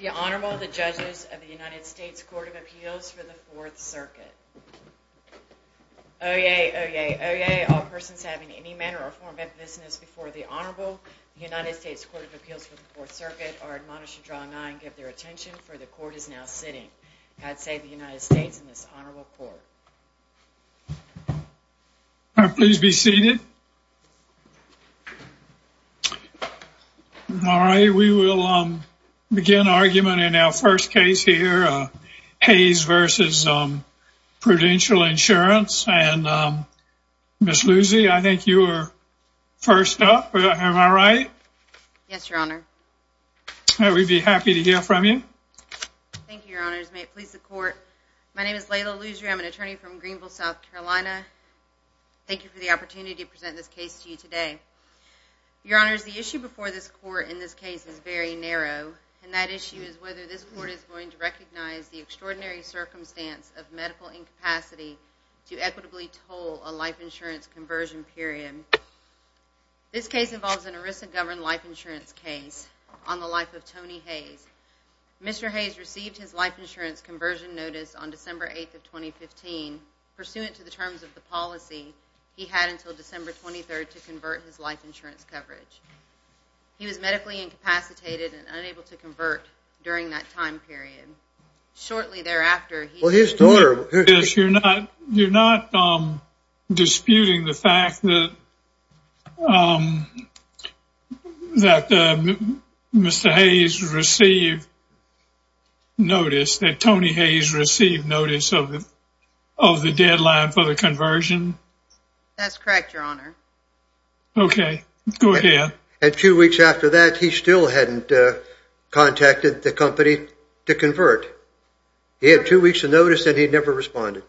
The Honorable, the Judges of the United States Court of Appeals for the Fourth Circuit. Oyez, oyez, oyez, all persons having any manner or form of business before the Honorable, the United States Court of Appeals for the Fourth Circuit, are admonished to draw nigh and give their attention, for the Court is now sitting. God save the United States and this Honorable Court. All right, please be seated. All right, we will begin argument in our first case here, Hayes v. Prudential Insurance. And Ms. Luzzi, I think you are first up, am I right? Yes, Your Honor. We'd be happy to hear from you. Thank you, Your Honors. May it please the Court, my name is Layla Luzzi, I'm an attorney from Greenville, South Carolina. Thank you for the opportunity to present this case to you today. Your Honors, the issue before this Court in this case is very narrow, and that issue is whether this Court is going to recognize the extraordinary circumstance of medical incapacity to equitably toll a life insurance conversion period. This case involves an ERISA-governed life insurance case on the life of Tony Hayes. Mr. Hayes received his life insurance conversion notice on December 8th of 2015, pursuant to the terms of the policy he had until December 23rd to convert his life insurance coverage. He was medically incapacitated and unable to convert during that time period. Shortly thereafter... Well, his daughter... You're not disputing the fact that Mr. Hayes received notice, that Tony Hayes received notice of the deadline for the conversion? That's correct, Your Honor. Okay, go ahead. And two weeks after that, he still hadn't contacted the company to convert. He had two weeks of notice and he never responded.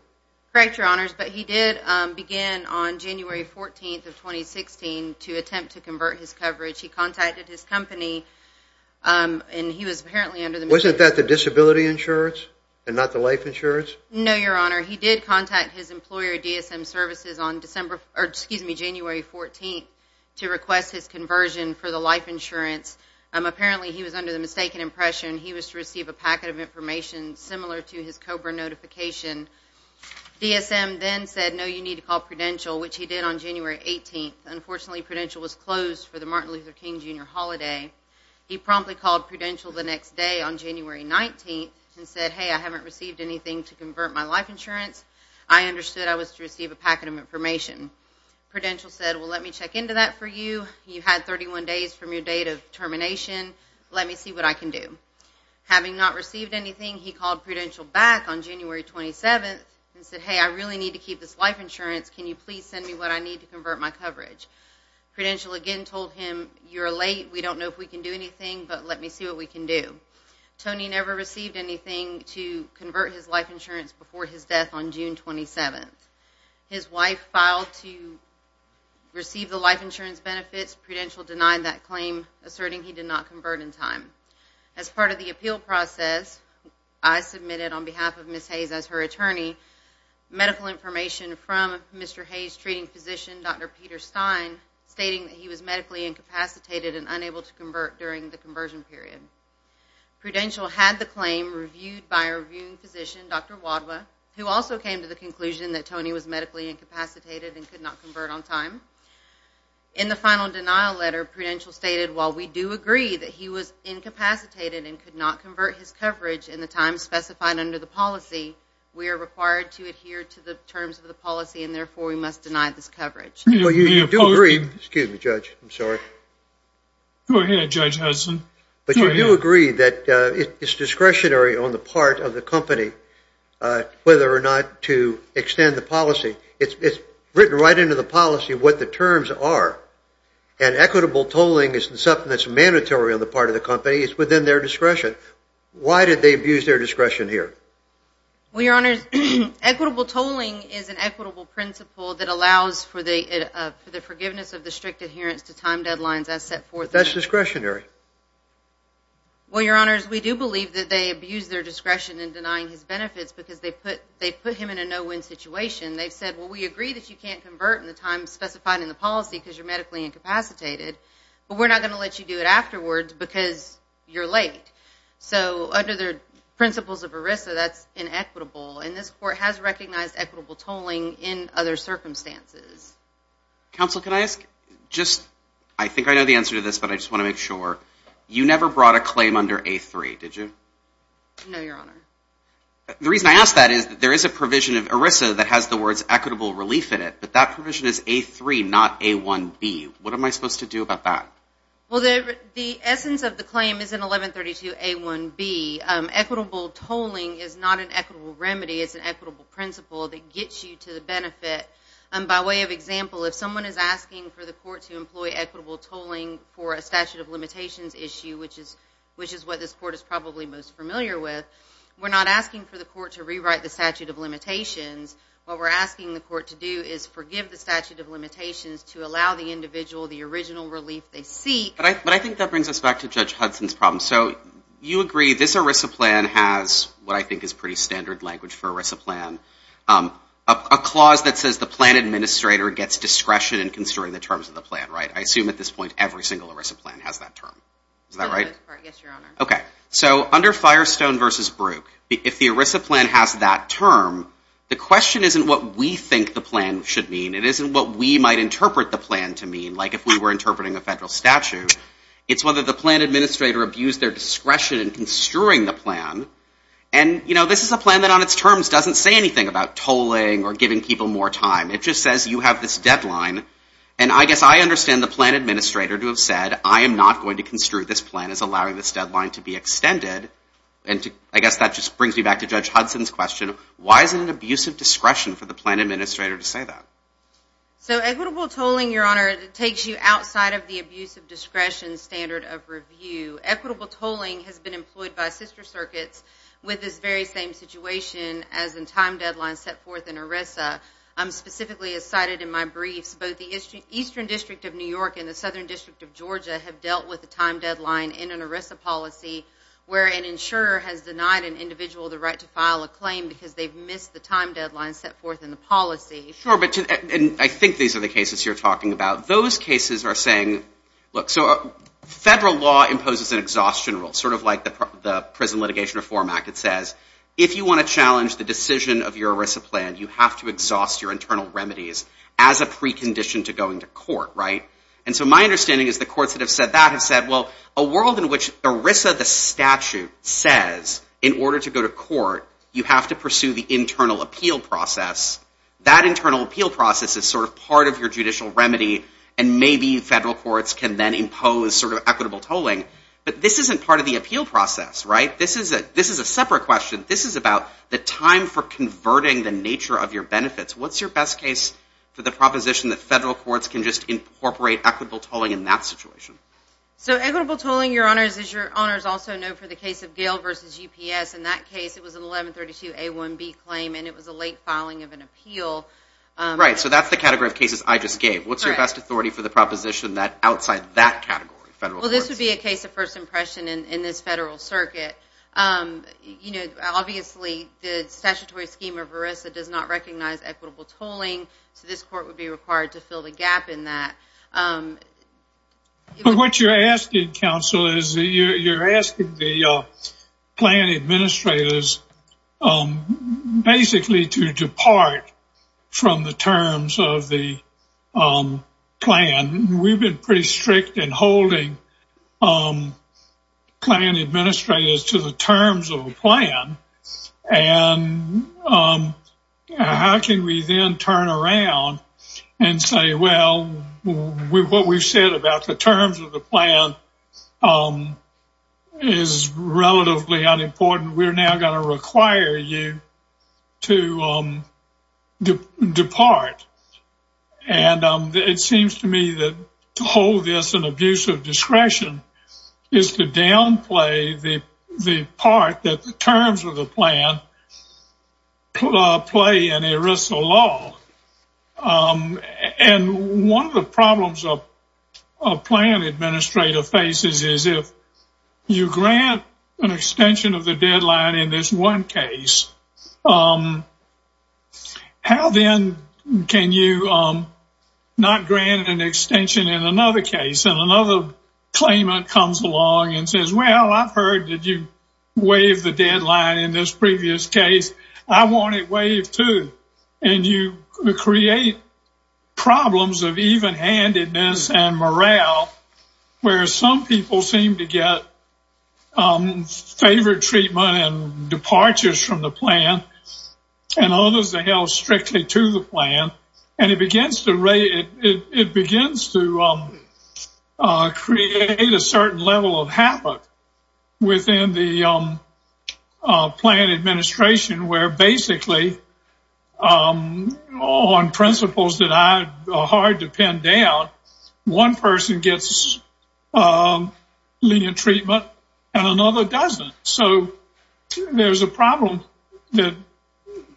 Correct, Your Honors, but he did begin on January 14th of 2016 to attempt to convert his coverage. He contacted his company and he was apparently under the... Wasn't that the disability insurance and not the life insurance? No, Your Honor. He did contact his employer, DSM Services, on January 14th to request his conversion for the life insurance. Apparently, he was under the mistaken impression he was to receive a packet of information similar to his COBRA notification. DSM then said, no, you need to call Prudential, which he did on January 18th. Unfortunately, Prudential was closed for the Martin Luther King Jr. holiday. He promptly called Prudential the next day on January 19th and said, hey, I haven't received anything to convert my life insurance. I understood I was to receive a packet of information. Prudential said, well, let me check into that for you. You had 31 days from your date of termination. Let me see what I can do. Having not received anything, he called Prudential back on January 27th and said, hey, I really need to keep this life insurance. Can you please send me what I need to convert my coverage? Prudential again told him, you're late. We don't know if we can do anything, but let me see what we can do. Tony never received anything to convert his life insurance before his death on June 27th. His wife filed to receive the life insurance benefits. Prudential denied that claim, asserting he did not convert in time. As part of the appeal process, I submitted on behalf of Ms. Hayes as her attorney, medical information from Mr. Hayes' treating physician, Dr. Peter Stein, stating that he was medically incapacitated and unable to convert during the conversion period. Prudential had the claim reviewed by a reviewing physician, Dr. Wadhwa, who also came to the conclusion that Tony was medically incapacitated and could not convert on time. In the final denial letter, Prudential stated, while we do agree that he was incapacitated and could not convert his coverage in the time specified under the policy, we are required to adhere to the terms of the policy and therefore we must deny this coverage. Well, you do agree, excuse me, Judge, I'm sorry. Go ahead, Judge Hudson. But you do agree that it's discretionary on the part of the company whether or not to extend the policy. It's written right into the policy what the terms are. And equitable tolling is something that's mandatory on the part of the company. It's within their discretion. Why did they abuse their discretion here? Well, Your Honors, equitable tolling is an equitable principle that allows for the forgiveness of the strict adherence to time deadlines as set forth. That's discretionary. Well, Your Honors, we do believe that they abused their discretion in denying his benefits because they put him in a no-win situation. They said, well, we agree that you can't convert in the time specified in the policy because you're medically incapacitated, but we're not going to let you do it afterwards because you're late. So under the principles of ERISA, that's inequitable. And this Court has recognized equitable tolling in other circumstances. Counsel, can I ask, just, I think I know the answer to this, but I just want to make sure. You never brought a claim under A3, did you? No, Your Honor. The reason I ask that is that there is a provision of ERISA that has the words equitable relief in it, but that provision is A3, not A1B. What am I supposed to do about that? Well, the essence of the claim is in 1132A1B. Equitable tolling is not an equitable remedy. It's an equitable principle that gets you to the benefit. By way of example, if someone is asking for the Court to employ equitable tolling for a statute of limitations issue, which is what this Court is probably most familiar with, we're not asking for the Court to rewrite the statute of limitations. What we're asking the Court to do is forgive the statute of limitations to allow the individual the original relief they seek. But I think that brings us back to Judge Hudson's problem. So you agree this ERISA plan has what I think is pretty standard language for ERISA plan, a clause that says the plan administrator gets discretion in construing the terms of the plan, right? I assume at this point every single ERISA plan has that term. Is that right? Yes, Your Honor. Okay. So under Firestone v. Brook, if the ERISA plan has that term, the question isn't what we think the plan should mean. It isn't what we might interpret the plan to mean, like if we were interpreting a federal statute. It's whether the plan administrator abused their discretion in construing the plan. And, you know, this is a plan that on its terms doesn't say anything about tolling or giving people more time. It just says you have this deadline. And I guess I understand the plan administrator to have said, I am not going to construe this plan as allowing this deadline to be extended. And I guess that just brings me back to Judge Hudson's question. Why is it an abuse of discretion for the plan administrator to say that? So equitable tolling, Your Honor, takes you outside of the abuse of discretion standard of review. Equitable tolling has been employed by sister circuits with this very same situation as in time deadlines set forth in ERISA. Specifically, as cited in my briefs, both the Eastern District of New York and the Southern District of Georgia have dealt with the time deadline in an ERISA policy where an insurer has denied an individual the right to file a claim because they've missed the time deadline set forth in the policy. Sure, and I think these are the cases you're talking about. Those cases are saying, look, so federal law imposes an exhaustion rule, sort of like the Prison Litigation Reform Act. It says if you want to challenge the decision of your ERISA plan, you have to exhaust your internal remedies as a precondition to going to court, right? And so my understanding is the courts that have said that have said, well, a world in which ERISA, the statute, says in order to go to court, you have to pursue the internal appeal process. That internal appeal process is sort of part of your judicial remedy, and maybe federal courts can then impose sort of equitable tolling. But this isn't part of the appeal process, right? This is a separate question. This is about the time for converting the nature of your benefits. What's your best case for the proposition that federal courts can just incorporate equitable tolling in that situation? So equitable tolling, Your Honors, as Your Honors also know, for the case of Gale v. UPS, in that case it was an 1132A1B claim, and it was a late filing of an appeal. Right, so that's the category of cases I just gave. What's your best authority for the proposition outside that category, federal courts? Well, this would be a case of first impression in this federal circuit. Obviously, the statutory scheme of ERISA does not recognize equitable tolling, so this court would be required to fill the gap in that. What you're asking, counsel, is you're asking the plan administrators basically to depart from the terms of the plan. We've been pretty strict in holding plan administrators to the terms of the plan, and how can we then turn around and say, well, what we've said about the terms of the plan is relatively unimportant. We're now going to require you to depart. And it seems to me that to hold this in abusive discretion is to downplay the part that the terms of the plan play in ERISA law. And one of the problems a plan administrator faces is if you grant an extension of the deadline in this one case, how then can you not grant an extension in another case, and another claimant comes along and says, well, I've heard that you waived the deadline in this previous case. I want it waived, too. And you create problems of even-handedness and morale, where some people seem to get favored treatment and departures from the plan and others are held strictly to the plan. And it begins to create a certain level of havoc within the plan administration, where basically on principles that are hard to pin down, one person gets lenient treatment and another doesn't. So there's a problem that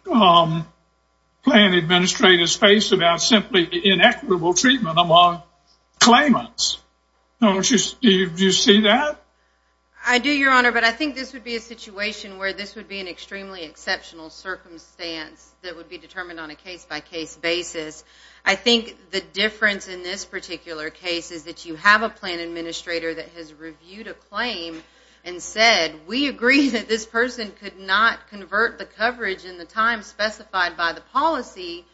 plan administrators face about simply inequitable treatment among claimants. Do you see that? I do, Your Honor, but I think this would be a situation where this would be an extremely exceptional circumstance that would be determined on a case-by-case basis. I think the difference in this particular case is that you have a plan administrator that has reviewed a claim and said, we agree that this person could not convert the coverage in the time specified by the policy,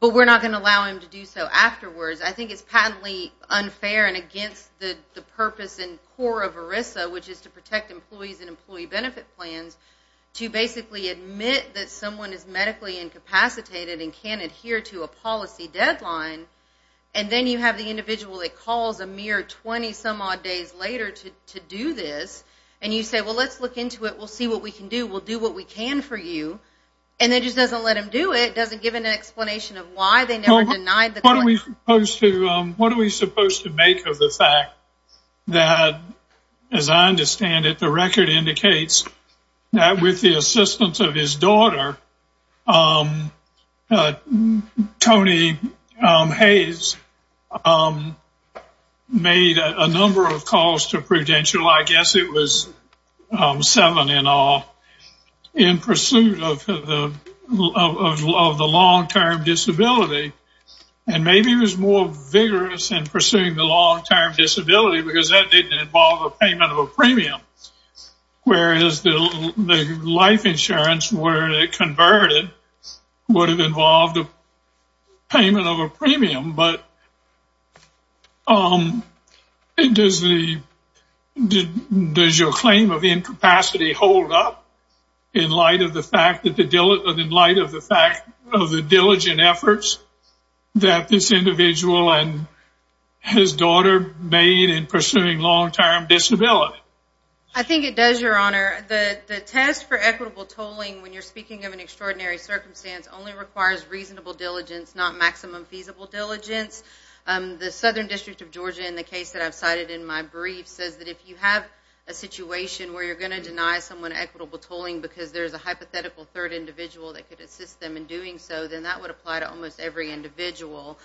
but we're not going to allow him to do so afterwards. I think it's patently unfair and against the purpose and core of ERISA, which is to protect employees and employee benefit plans, to basically admit that someone is medically incapacitated and can't adhere to a policy deadline. And then you have the individual that calls a mere 20-some-odd days later to do this, and you say, well, let's look into it. We'll see what we can do. We'll do what we can for you. And it just doesn't let them do it. It doesn't give an explanation of why they never denied the claim. What are we supposed to make of the fact that, as I understand it, the record indicates that with the assistance of his daughter, Tony Hayes made a number of calls to prudential, I guess it was seven in all, in pursuit of the long-term disability. And maybe it was more vigorous in pursuing the long-term disability because that didn't involve a payment of a premium, whereas the life insurance where it converted would have involved a payment of a premium. But does your claim of incapacity hold up in light of the fact of the diligent efforts that this individual and his daughter made in pursuing long-term disability? I think it does, Your Honor. The test for equitable tolling, when you're speaking of an extraordinary circumstance, only requires reasonable diligence, not maximum feasible diligence. The Southern District of Georgia, in the case that I've cited in my brief, says that if you have a situation where you're going to deny someone equitable tolling because there's a hypothetical third individual that could assist them in doing so, then that would apply to almost every individual.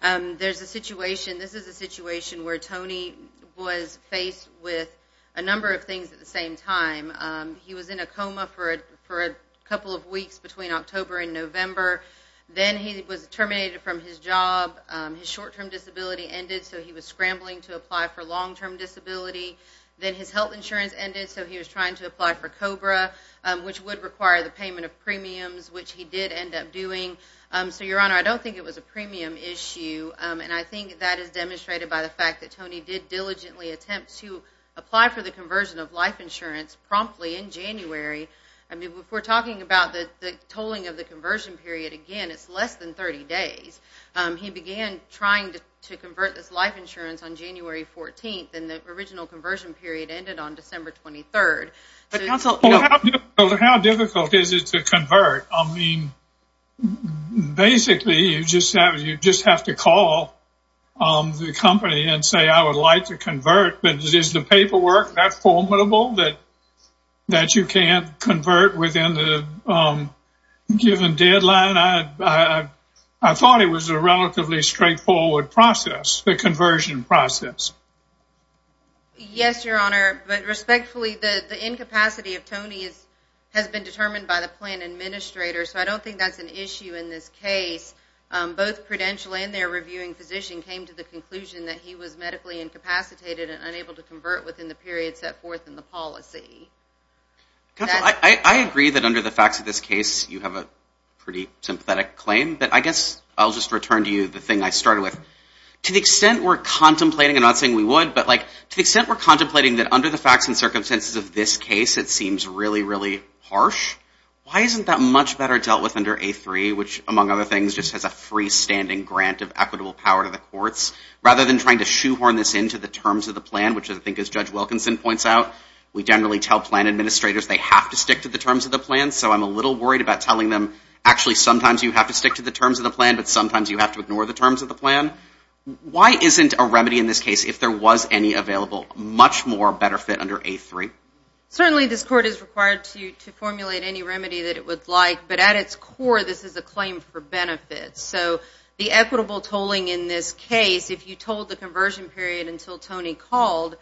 There's a situation, this is a situation, where Tony was faced with a number of things at the same time. He was in a coma for a couple of weeks between October and November. Then he was terminated from his job. His short-term disability ended, so he was scrambling to apply for long-term disability. Then his health insurance ended, so he was trying to apply for COBRA, which would require the payment of premiums, which he did end up doing. So, Your Honor, I don't think it was a premium issue, and I think that is demonstrated by the fact that Tony did diligently attempt to apply for the conversion of life insurance promptly in January. I mean, if we're talking about the tolling of the conversion period, again, it's less than 30 days. He began trying to convert this life insurance on January 14th, and the original conversion period ended on December 23rd. How difficult is it to convert? I mean, basically, you just have to call the company and say, I would like to convert, but is the paperwork that formidable that you can't convert within the given deadline? I thought it was a relatively straightforward process, the conversion process. Yes, Your Honor, but respectfully, the incapacity of Tony has been determined by the plan administrator, so I don't think that's an issue in this case. Both Prudential and their reviewing physician came to the conclusion that he was medically incapacitated and unable to convert within the period set forth in the policy. Counsel, I agree that under the facts of this case, you have a pretty sympathetic claim, but I guess I'll just return to you the thing I started with. To the extent we're contemplating, I'm not saying we would, but to the extent we're contemplating that under the facts and circumstances of this case, it seems really, really harsh, why isn't that much better dealt with under A3, which, among other things, just has a freestanding grant of equitable power to the courts, rather than trying to shoehorn this into the terms of the plan, which I think, as Judge Wilkinson points out, we generally tell plan administrators they have to stick to the terms of the plan, so I'm a little worried about telling them, actually, sometimes you have to stick to the terms of the plan, but sometimes you have to ignore the terms of the plan. Why isn't a remedy in this case, if there was any available, much more better fit under A3? Certainly, this court is required to formulate any remedy that it would like, but at its core, this is a claim for benefits, so the equitable tolling in this case, if you told the conversion period until Tony called,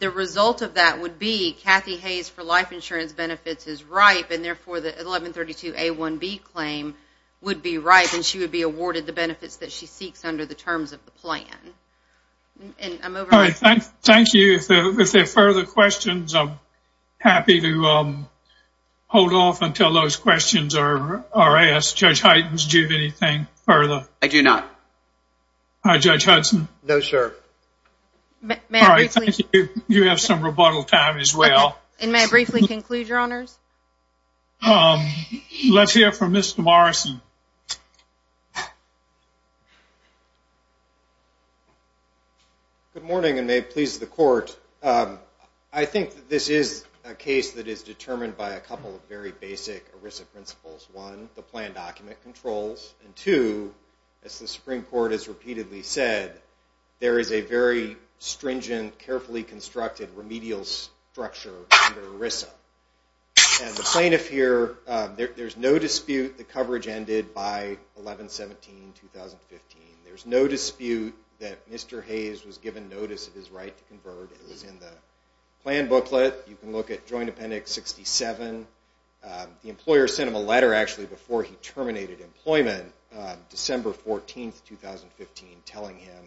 the result of that would be Kathy Hayes for life insurance benefits is ripe, and therefore the 1132A1B claim would be ripe, and she would be awarded the benefits that she seeks under the terms of the plan. I'm over. Thank you. If there are further questions, I'm happy to hold off until those questions are asked. Judge Hytens, do you have anything further? I do not. All right, Judge Hudson. No, sir. All right, thank you. You have some rebuttal time as well. And may I briefly conclude, Your Honors? Let's hear from Mr. Morrison. Good morning, and may it please the Court. I think that this is a case that is determined by a couple of very basic ERISA principles. One, the plan document controls. And two, as the Supreme Court has repeatedly said, there is a very stringent, carefully constructed remedial structure under ERISA. And the plaintiff here, there's no dispute the coverage ended by 11-17-2015. There's no dispute that Mr. Hayes was given notice of his right to convert. It was in the plan booklet. You can look at Joint Appendix 67. The employer sent him a letter actually before he terminated employment, December 14, 2015, telling him,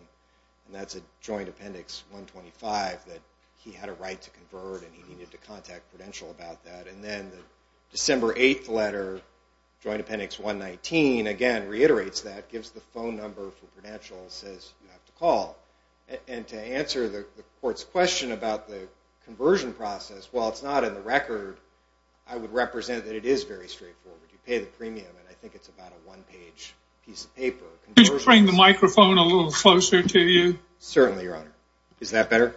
and that's at Joint Appendix 125, that he had a right to convert and he needed to contact Prudential about that. And then the December 8th letter, Joint Appendix 119, again reiterates that, gives the phone number for Prudential and says you have to call. And to answer the Court's question about the conversion process, while it's not in the record, I would represent that it is very straightforward. You pay the premium, and I think it's about a one-page piece of paper. Could you bring the microphone a little closer to you? Certainly, Your Honor. Is that better?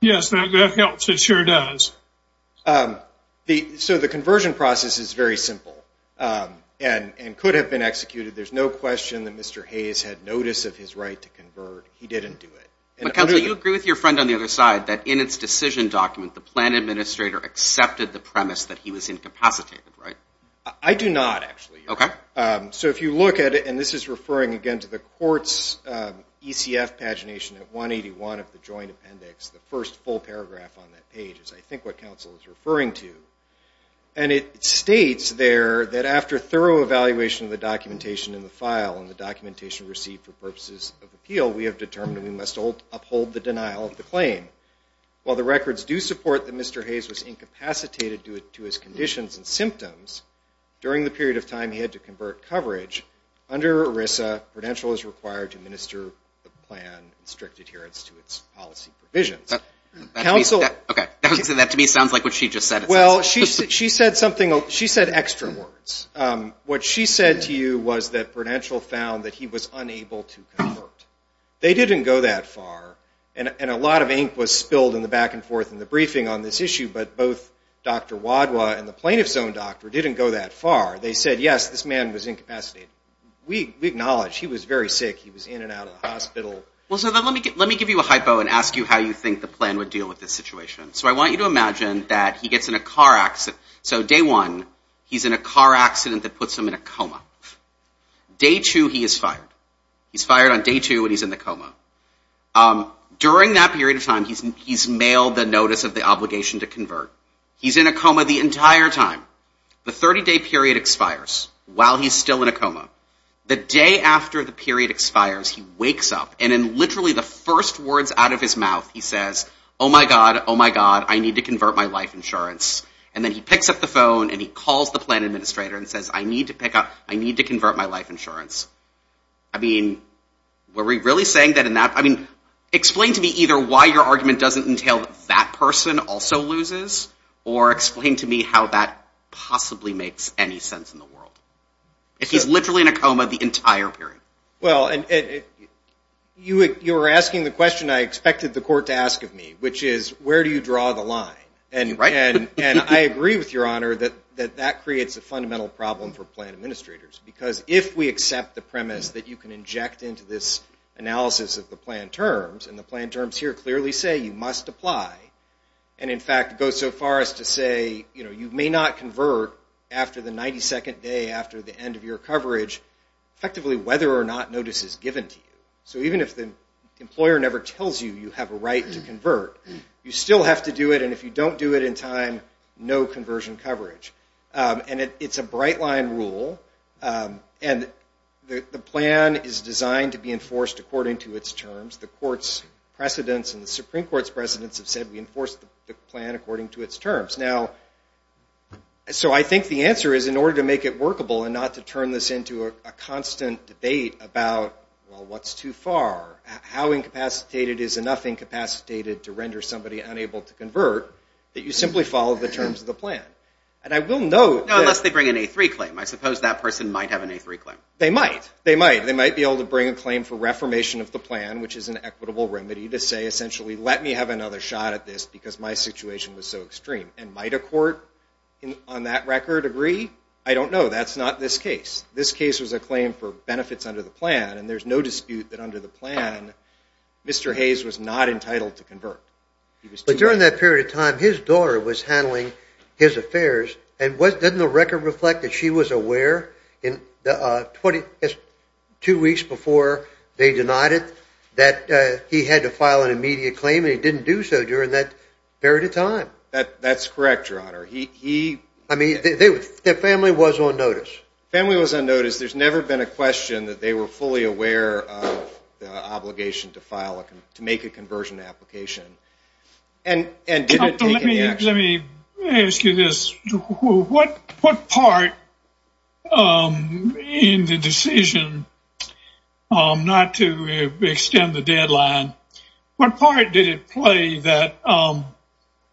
Yes, that helps. It sure does. So the conversion process is very simple and could have been executed. There's no question that Mr. Hayes had notice of his right to convert. He didn't do it. Counsel, you agree with your friend on the other side that in its decision document, the plan administrator accepted the premise that he was incapacitated, right? I do not, actually, Your Honor. So if you look at it, and this is referring, again, to the Court's ECF pagination at 181 of the Joint Appendix, the first full paragraph on that page is, I think, what counsel is referring to. And it states there that after thorough evaluation of the documentation in the file and the documentation received for purposes of appeal, we have determined we must uphold the denial of the claim. While the records do support that Mr. Hayes was incapacitated due to his conditions and symptoms during the period of time he had to convert coverage, under ERISA, Prudential is required to administer the plan in strict adherence to its policy provisions. Okay, that to me sounds like what she just said. Well, she said extra words. What she said to you was that Prudential found that he was unable to convert. They didn't go that far. And a lot of ink was spilled in the back and forth in the briefing on this issue, but both Dr. Wadhwa and the plaintiff's own doctor didn't go that far. They said, yes, this man was incapacitated. We acknowledge he was very sick. He was in and out of the hospital. Well, so let me give you a hypo and ask you how you think the plan would deal with this situation. So I want you to imagine that he gets in a car accident. So day one, he's in a car accident that puts him in a coma. Day two, he is fired. He's fired on day two and he's in the coma. During that period of time, he's mailed the notice of the obligation to convert. He's in a coma the entire time. The 30-day period expires while he's still in a coma. The day after the period expires, he wakes up, and in literally the first words out of his mouth, he says, oh, my God, oh, my God, I need to convert my life insurance. And then he picks up the phone and he calls the plan administrator and says, I need to pick up, I need to convert my life insurance. I mean, were we really saying that in that? I mean, explain to me either why your argument doesn't entail that that person also loses or explain to me how that possibly makes any sense in the world. If he's literally in a coma the entire period. Well, you were asking the question I expected the court to ask of me, which is where do you draw the line. And I agree with Your Honor that that creates a fundamental problem for plan administrators because if we accept the premise that you can inject into this analysis of the plan terms, and the plan terms here clearly say you must apply, and in fact go so far as to say you may not convert after the 92nd day, after the end of your coverage, effectively whether or not notice is given to you. So even if the employer never tells you you have a right to convert, you still have to do it, and if you don't do it in time, no conversion coverage. And it's a bright line rule, and the plan is designed to be enforced according to its terms. The court's precedents and the Supreme Court's precedents have said we enforce the plan according to its terms. Now, so I think the answer is in order to make it workable and not to turn this into a constant debate about, well, what's too far, how incapacitated is enough incapacitated to render somebody unable to convert, that you simply follow the terms of the plan. And I will note that... No, unless they bring an A3 claim. I suppose that person might have an A3 claim. They might. They might. They might be able to bring a claim for reformation of the plan, which is an equitable remedy to say essentially let me have another shot at this because my situation was so extreme. And might a court on that record agree? I don't know. That's not this case. This case was a claim for benefits under the plan, and there's no dispute that under the plan Mr. Hayes was not entitled to convert. But during that period of time, his daughter was handling his affairs, and didn't the record reflect that she was aware two weeks before they denied it that he had to file an immediate claim and he didn't do so during that period of time? That's correct, Your Honor. I mean, their family was on notice. Family was on notice. There's never been a question that they were fully aware of the obligation to make a conversion application. And did it take any action? Let me ask you this. What part in the decision not to extend the deadline, what part did it play that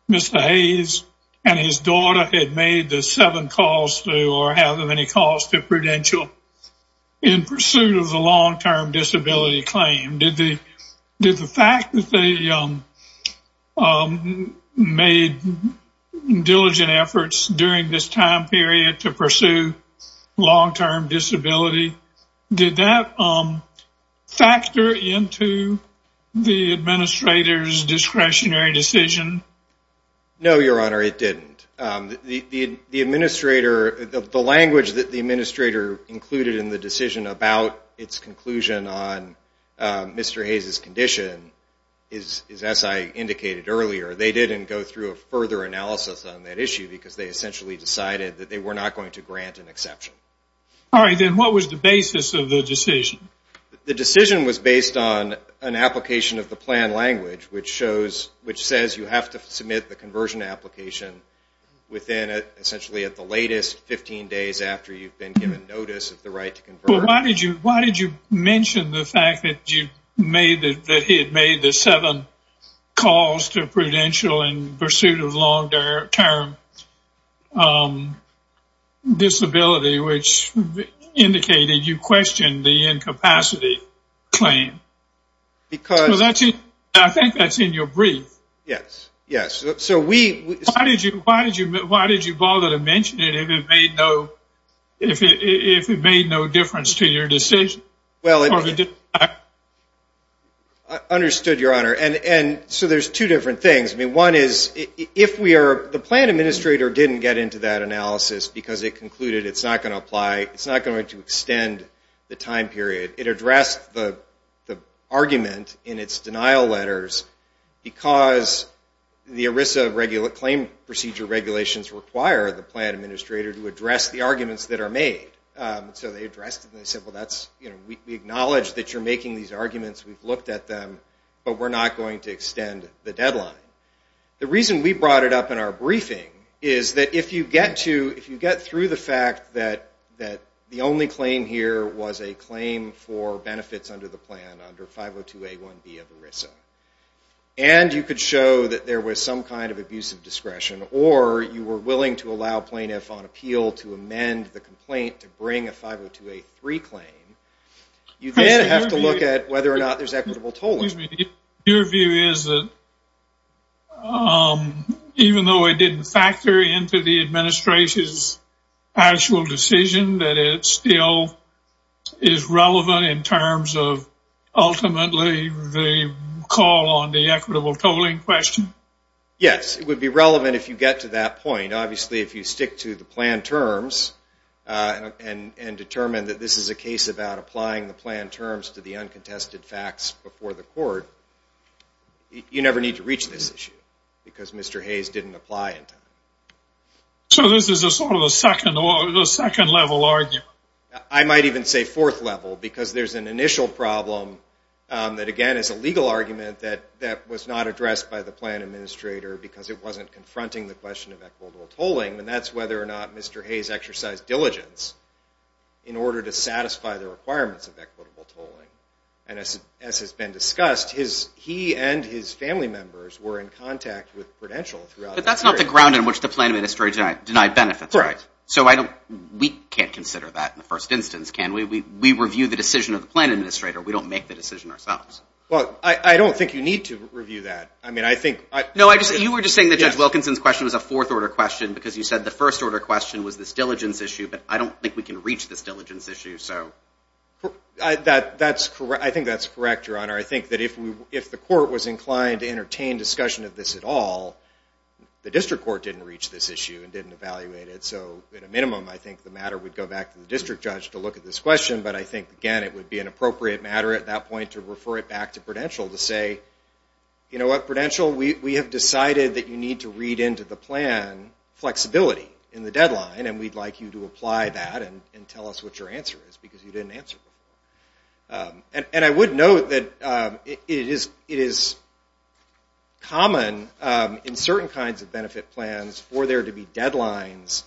Mr. Hayes and his daughter had made the seven calls to or have any calls to Prudential in pursuit of the long-term disability claim? Did the fact that they made diligent efforts during this time period to pursue long-term disability, did that factor into the administrator's discretionary decision? No, Your Honor, it didn't. The language that the administrator included in the decision about its conclusion on Mr. Hayes' condition, as I indicated earlier, they didn't go through a further analysis on that issue because they essentially decided that they were not going to grant an exception. All right. Then what was the basis of the decision? The decision was based on an application of the plan language, which says you have to submit the conversion application within, essentially at the latest, 15 days after you've been given notice of the right to convert. Why did you mention the fact that he had made the seven calls to Prudential in pursuit of long-term disability, which indicated you questioned the incapacity claim? I think that's in your brief. Yes, yes. Why did you bother to mention it if it made no difference to your decision? Understood, Your Honor. So there's two different things. One is, the plan administrator didn't get into that analysis because it concluded it's not going to apply, it's not going to extend the time period. It addressed the argument in its denial letters because the ERISA claim procedure regulations require the plan administrator to address the arguments that are made. So they addressed it and they said, well, we acknowledge that you're making these arguments, we've looked at them, but we're not going to extend the deadline. The reason we brought it up in our briefing is that if you get through the fact that the only claim here was a claim for benefits under the plan, under 502A1B of ERISA, and you could show that there was some kind of abusive discretion, or you were willing to allow plaintiff on appeal to amend the complaint to bring a 502A3 claim, you then have to look at whether or not there's equitable tolling. Your view is that even though it didn't factor into the administration's actual decision, that it still is relevant in terms of ultimately the call on the equitable tolling question? Yes, it would be relevant if you get to that point. Obviously, if you stick to the plan terms and determine that this is a case about applying the plan terms to the uncontested facts before the court, you never need to reach this issue because Mr. Hayes didn't apply in time. So this is a sort of a second level argument? I might even say fourth level because there's an initial problem that, again, is a legal argument that was not addressed by the plan administrator because it wasn't confronting the question of equitable tolling, and that's whether or not Mr. Hayes exercised diligence in order to satisfy the requirements of equitable tolling. And as has been discussed, he and his family members were in contact with Prudential throughout the period. But that's not the ground in which the plan administrator denied benefits. Correct. So we can't consider that in the first instance, can we? We review the decision of the plan administrator. We don't make the decision ourselves. Well, I don't think you need to review that. You were just saying that Judge Wilkinson's question was a fourth order question because you said the first order question was this diligence issue, but I don't think we can reach this diligence issue. I think that's correct, Your Honor. I think that if the court was inclined to entertain discussion of this at all, the district court didn't reach this issue and didn't evaluate it. So at a minimum, I think the matter would go back to the district judge to look at this question, but I think, again, it would be an appropriate matter at that point to refer it back to Prudential to say, you know what, Prudential, we have decided that you need to read into the plan flexibility in the deadline, and we'd like you to apply that and tell us what your answer is because you didn't answer before. And I would note that it is common in certain kinds of benefit plans for there to be deadlines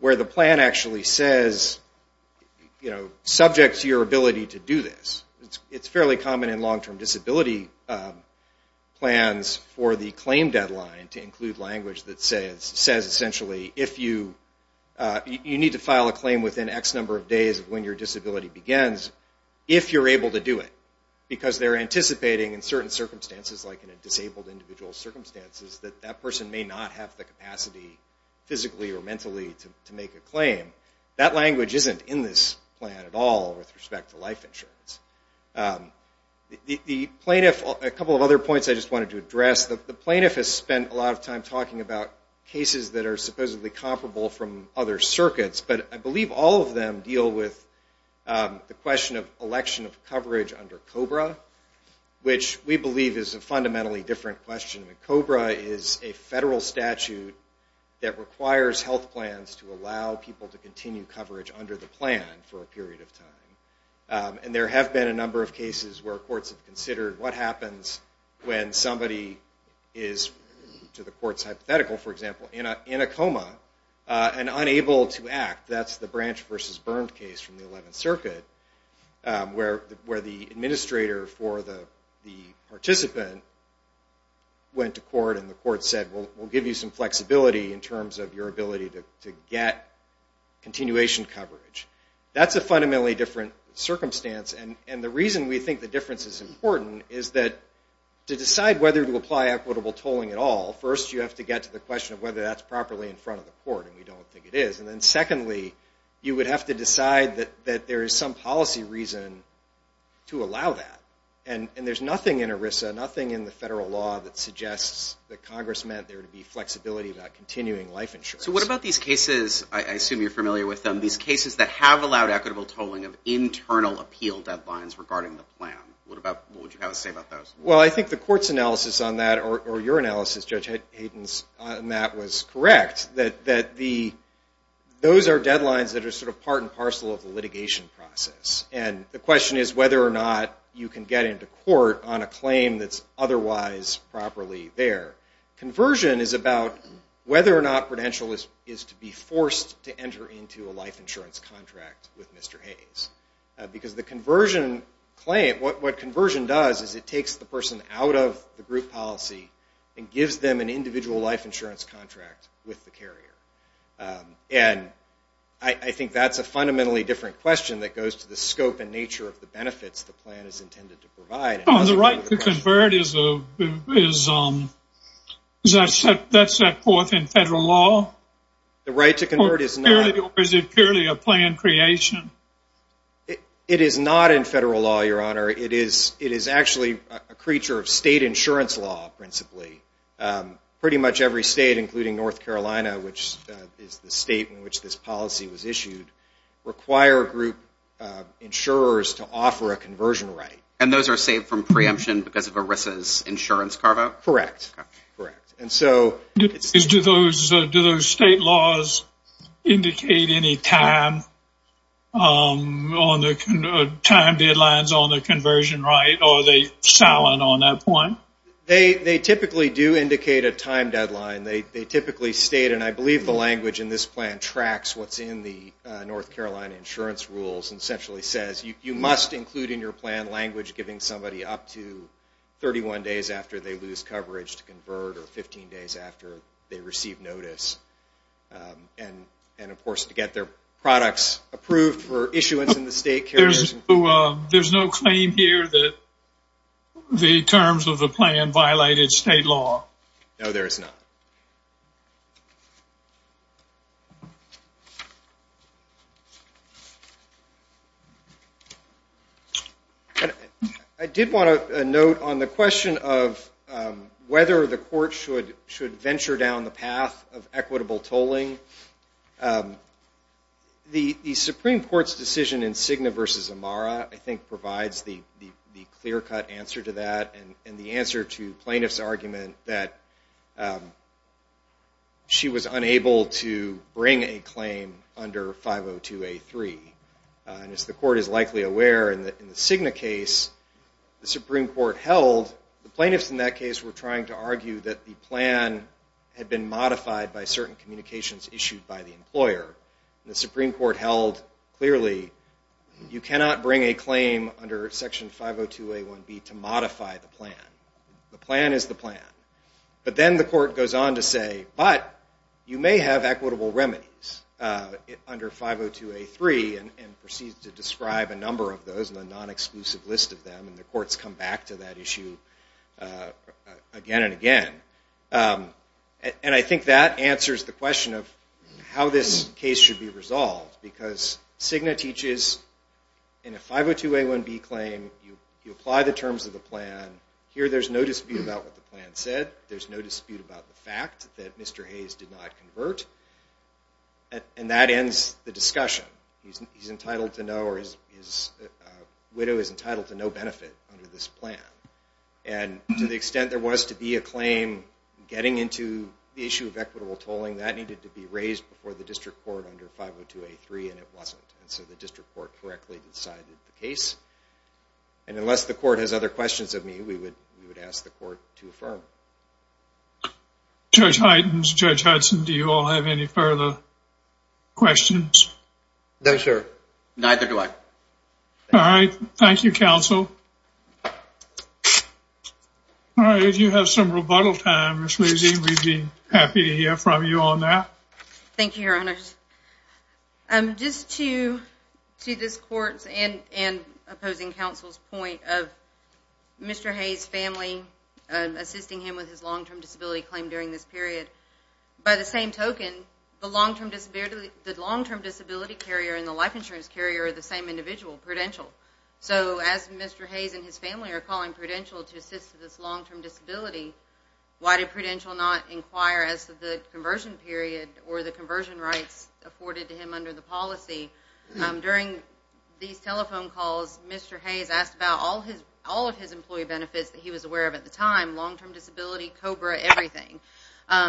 where the plan actually says, you know, subject to your ability to do this. It's fairly common in long-term disability plans for the claim deadline to include language that says, essentially, you need to file a claim within X number of days of when your disability begins if you're able to do it because they're anticipating in certain circumstances, like in a disabled individual's circumstances, that that person may not have the capacity physically or mentally to make a claim. That language isn't in this plan at all with respect to life insurance. The plaintiff, a couple of other points I just wanted to address. The plaintiff has spent a lot of time talking about cases that are supposedly comparable from other circuits, but I believe all of them deal with the question of election of coverage under COBRA, which we believe is a fundamentally different question. COBRA is a federal statute that requires health plans to allow people to continue coverage under the plan for a period of time. And there have been a number of cases where courts have considered what happens when somebody is, to the court's hypothetical, for example, in a coma and unable to act. That's the Branch v. Burndt case from the 11th Circuit where the administrator for the participant went to court and the court said, we'll give you some flexibility in terms of your ability to get continuation coverage. That's a fundamentally different circumstance. And the reason we think the difference is important is that to decide whether to apply equitable tolling at all, first you have to get to the question of whether that's properly in front of the court, and we don't think it is. And then secondly, you would have to decide that there is some policy reason to allow that. And there's nothing in ERISA, nothing in the federal law that suggests that Congress meant there to be flexibility about continuing life insurance. So what about these cases, I assume you're familiar with them, these cases that have allowed equitable tolling of internal appeal deadlines regarding the plan? What would you have to say about those? Well, I think the court's analysis on that, or your analysis, Judge Hayden's, on that was correct, that those are deadlines that are sort of part and parcel of the litigation process. And the question is whether or not you can get into court on a claim that's otherwise properly there. Conversion is about whether or not Prudential is to be forced to enter into a life insurance contract with Mr. Hayes. Because the conversion claim, what conversion does is it takes the person out of the group policy and gives them an individual life insurance contract with the carrier. And I think that's a fundamentally different question that goes to the scope and nature of the benefits the plan is intended to provide. The right to convert, is that set forth in federal law? The right to convert is not. Or is it purely a plan creation? It is not in federal law, Your Honor. It is actually a creature of state insurance law, principally. Pretty much every state, including North Carolina, which is the state in which this policy was issued, require group insurers to offer a conversion right. And those are saved from preemption because of ERISA's insurance carve-out? Correct. Do those state laws indicate any time deadlines on the conversion right? Or are they silent on that point? They typically do indicate a time deadline. They typically state, and I believe the language in this plan tracks what's in the North Carolina insurance rules and essentially says you must include in your plan language giving somebody up to 31 days after they lose coverage to convert or 15 days after they receive notice. And, of course, to get their products approved for issuance in the state carriers. There's no claim here that the terms of the plan violated state law? No, there is not. Okay. I did want to note on the question of whether the court should venture down the path of equitable tolling. The Supreme Court's decision in Cigna versus Amara, I think, provides the clear-cut answer to that and the answer to plaintiff's argument that she was unable to bring a claim under 502A3. And as the court is likely aware, in the Cigna case, the Supreme Court held, the plaintiffs in that case were trying to argue that the plan had been modified and the Supreme Court held clearly you cannot bring a claim under Section 502A1B to modify the plan. The plan is the plan. But then the court goes on to say, but you may have equitable remedies under 502A3 and proceeds to describe a number of those in a non-exclusive list of them and the courts come back to that issue again and again. And I think that answers the question of how this case should be resolved because Cigna teaches in a 502A1B claim, you apply the terms of the plan. Here there's no dispute about what the plan said. There's no dispute about the fact that Mr. Hayes did not convert. And that ends the discussion. He's entitled to no or his widow is entitled to no benefit under this plan. And to the extent there was to be a claim getting into the issue of equitable tolling, that needed to be raised before the district court under 502A3 and it wasn't. And so the district court correctly decided the case. And unless the court has other questions of me, we would ask the court to affirm. Judge Hydens, Judge Hudson, do you all have any further questions? No, sir. Neither do I. All right. Thank you, counsel. All right. If you have some rebuttal time, Ms. Levy, we'd be happy to hear from you on that. Thank you, Your Honor. Just to this court's and opposing counsel's point of Mr. Hayes' family assisting him with his long-term disability claim during this period, by the same token, the long-term disability carrier and the life insurance carrier are the same individual, Prudential. So as Mr. Hayes and his family are calling Prudential to assist with this long-term disability, why did Prudential not inquire as to the conversion period or the conversion rights afforded to him under the policy? During these telephone calls, Mr. Hayes asked about all of his employee benefits that he was aware of at the time, long-term disability, COBRA, everything.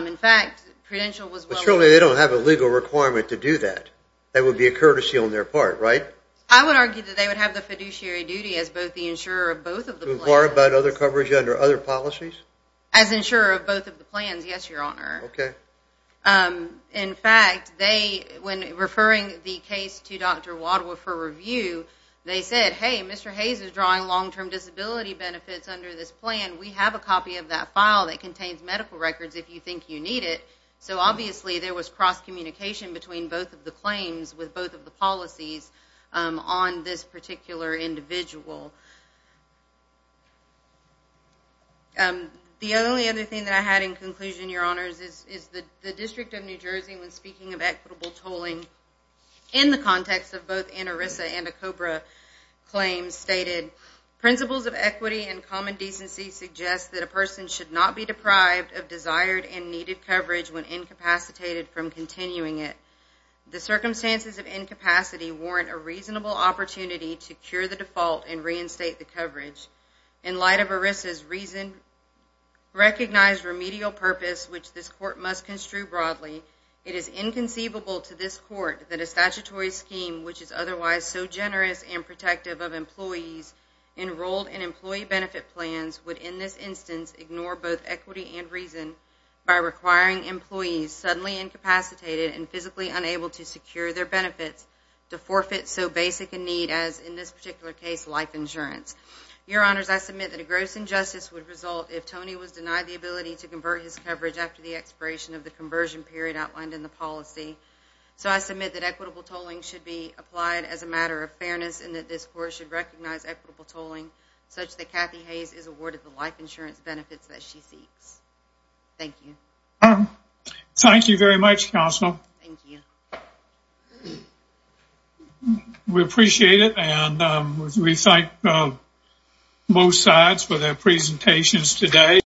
In fact, Prudential was well aware. They have a legal requirement to do that. That would be a courtesy on their part, right? I would argue that they would have the fiduciary duty as both the insurer of both of the plans. To inquire about other coverage under other policies? As insurer of both of the plans, yes, Your Honor. Okay. In fact, when referring the case to Dr. Wadhwa for review, they said, hey, Mr. Hayes is drawing long-term disability benefits under this plan. We have a copy of that file that contains medical records if you think you need it. So obviously there was cross-communication between both of the claims with both of the policies on this particular individual. The only other thing that I had in conclusion, Your Honors, is the District of New Jersey when speaking of equitable tolling in the context of both ANARISA and a COBRA claim stated, principles of equity and common decency suggest that a person should not be deprived of desired and needed coverage when incapacitated from continuing it. The circumstances of incapacity warrant a reasonable opportunity to cure the default and reinstate the coverage. In light of ANARISA's recognized remedial purpose, which this court must construe broadly, it is inconceivable to this court that a statutory scheme, which is otherwise so generous and protective of employees enrolled in employee benefit plans, would in this instance ignore both equity and reason by requiring employees suddenly incapacitated and physically unable to secure their benefits to forfeit so basic a need as, in this particular case, life insurance. Your Honors, I submit that a gross injustice would result if Tony was denied the ability to convert his coverage after the expiration of the conversion period outlined in the policy. So I submit that equitable tolling should be applied as a matter of fairness and that this court should recognize equitable tolling such that Kathy Hayes is awarded the life insurance benefits that she seeks. Thank you. Thank you very much, Counsel. Thank you. We appreciate it and we thank both sides for their presentations today.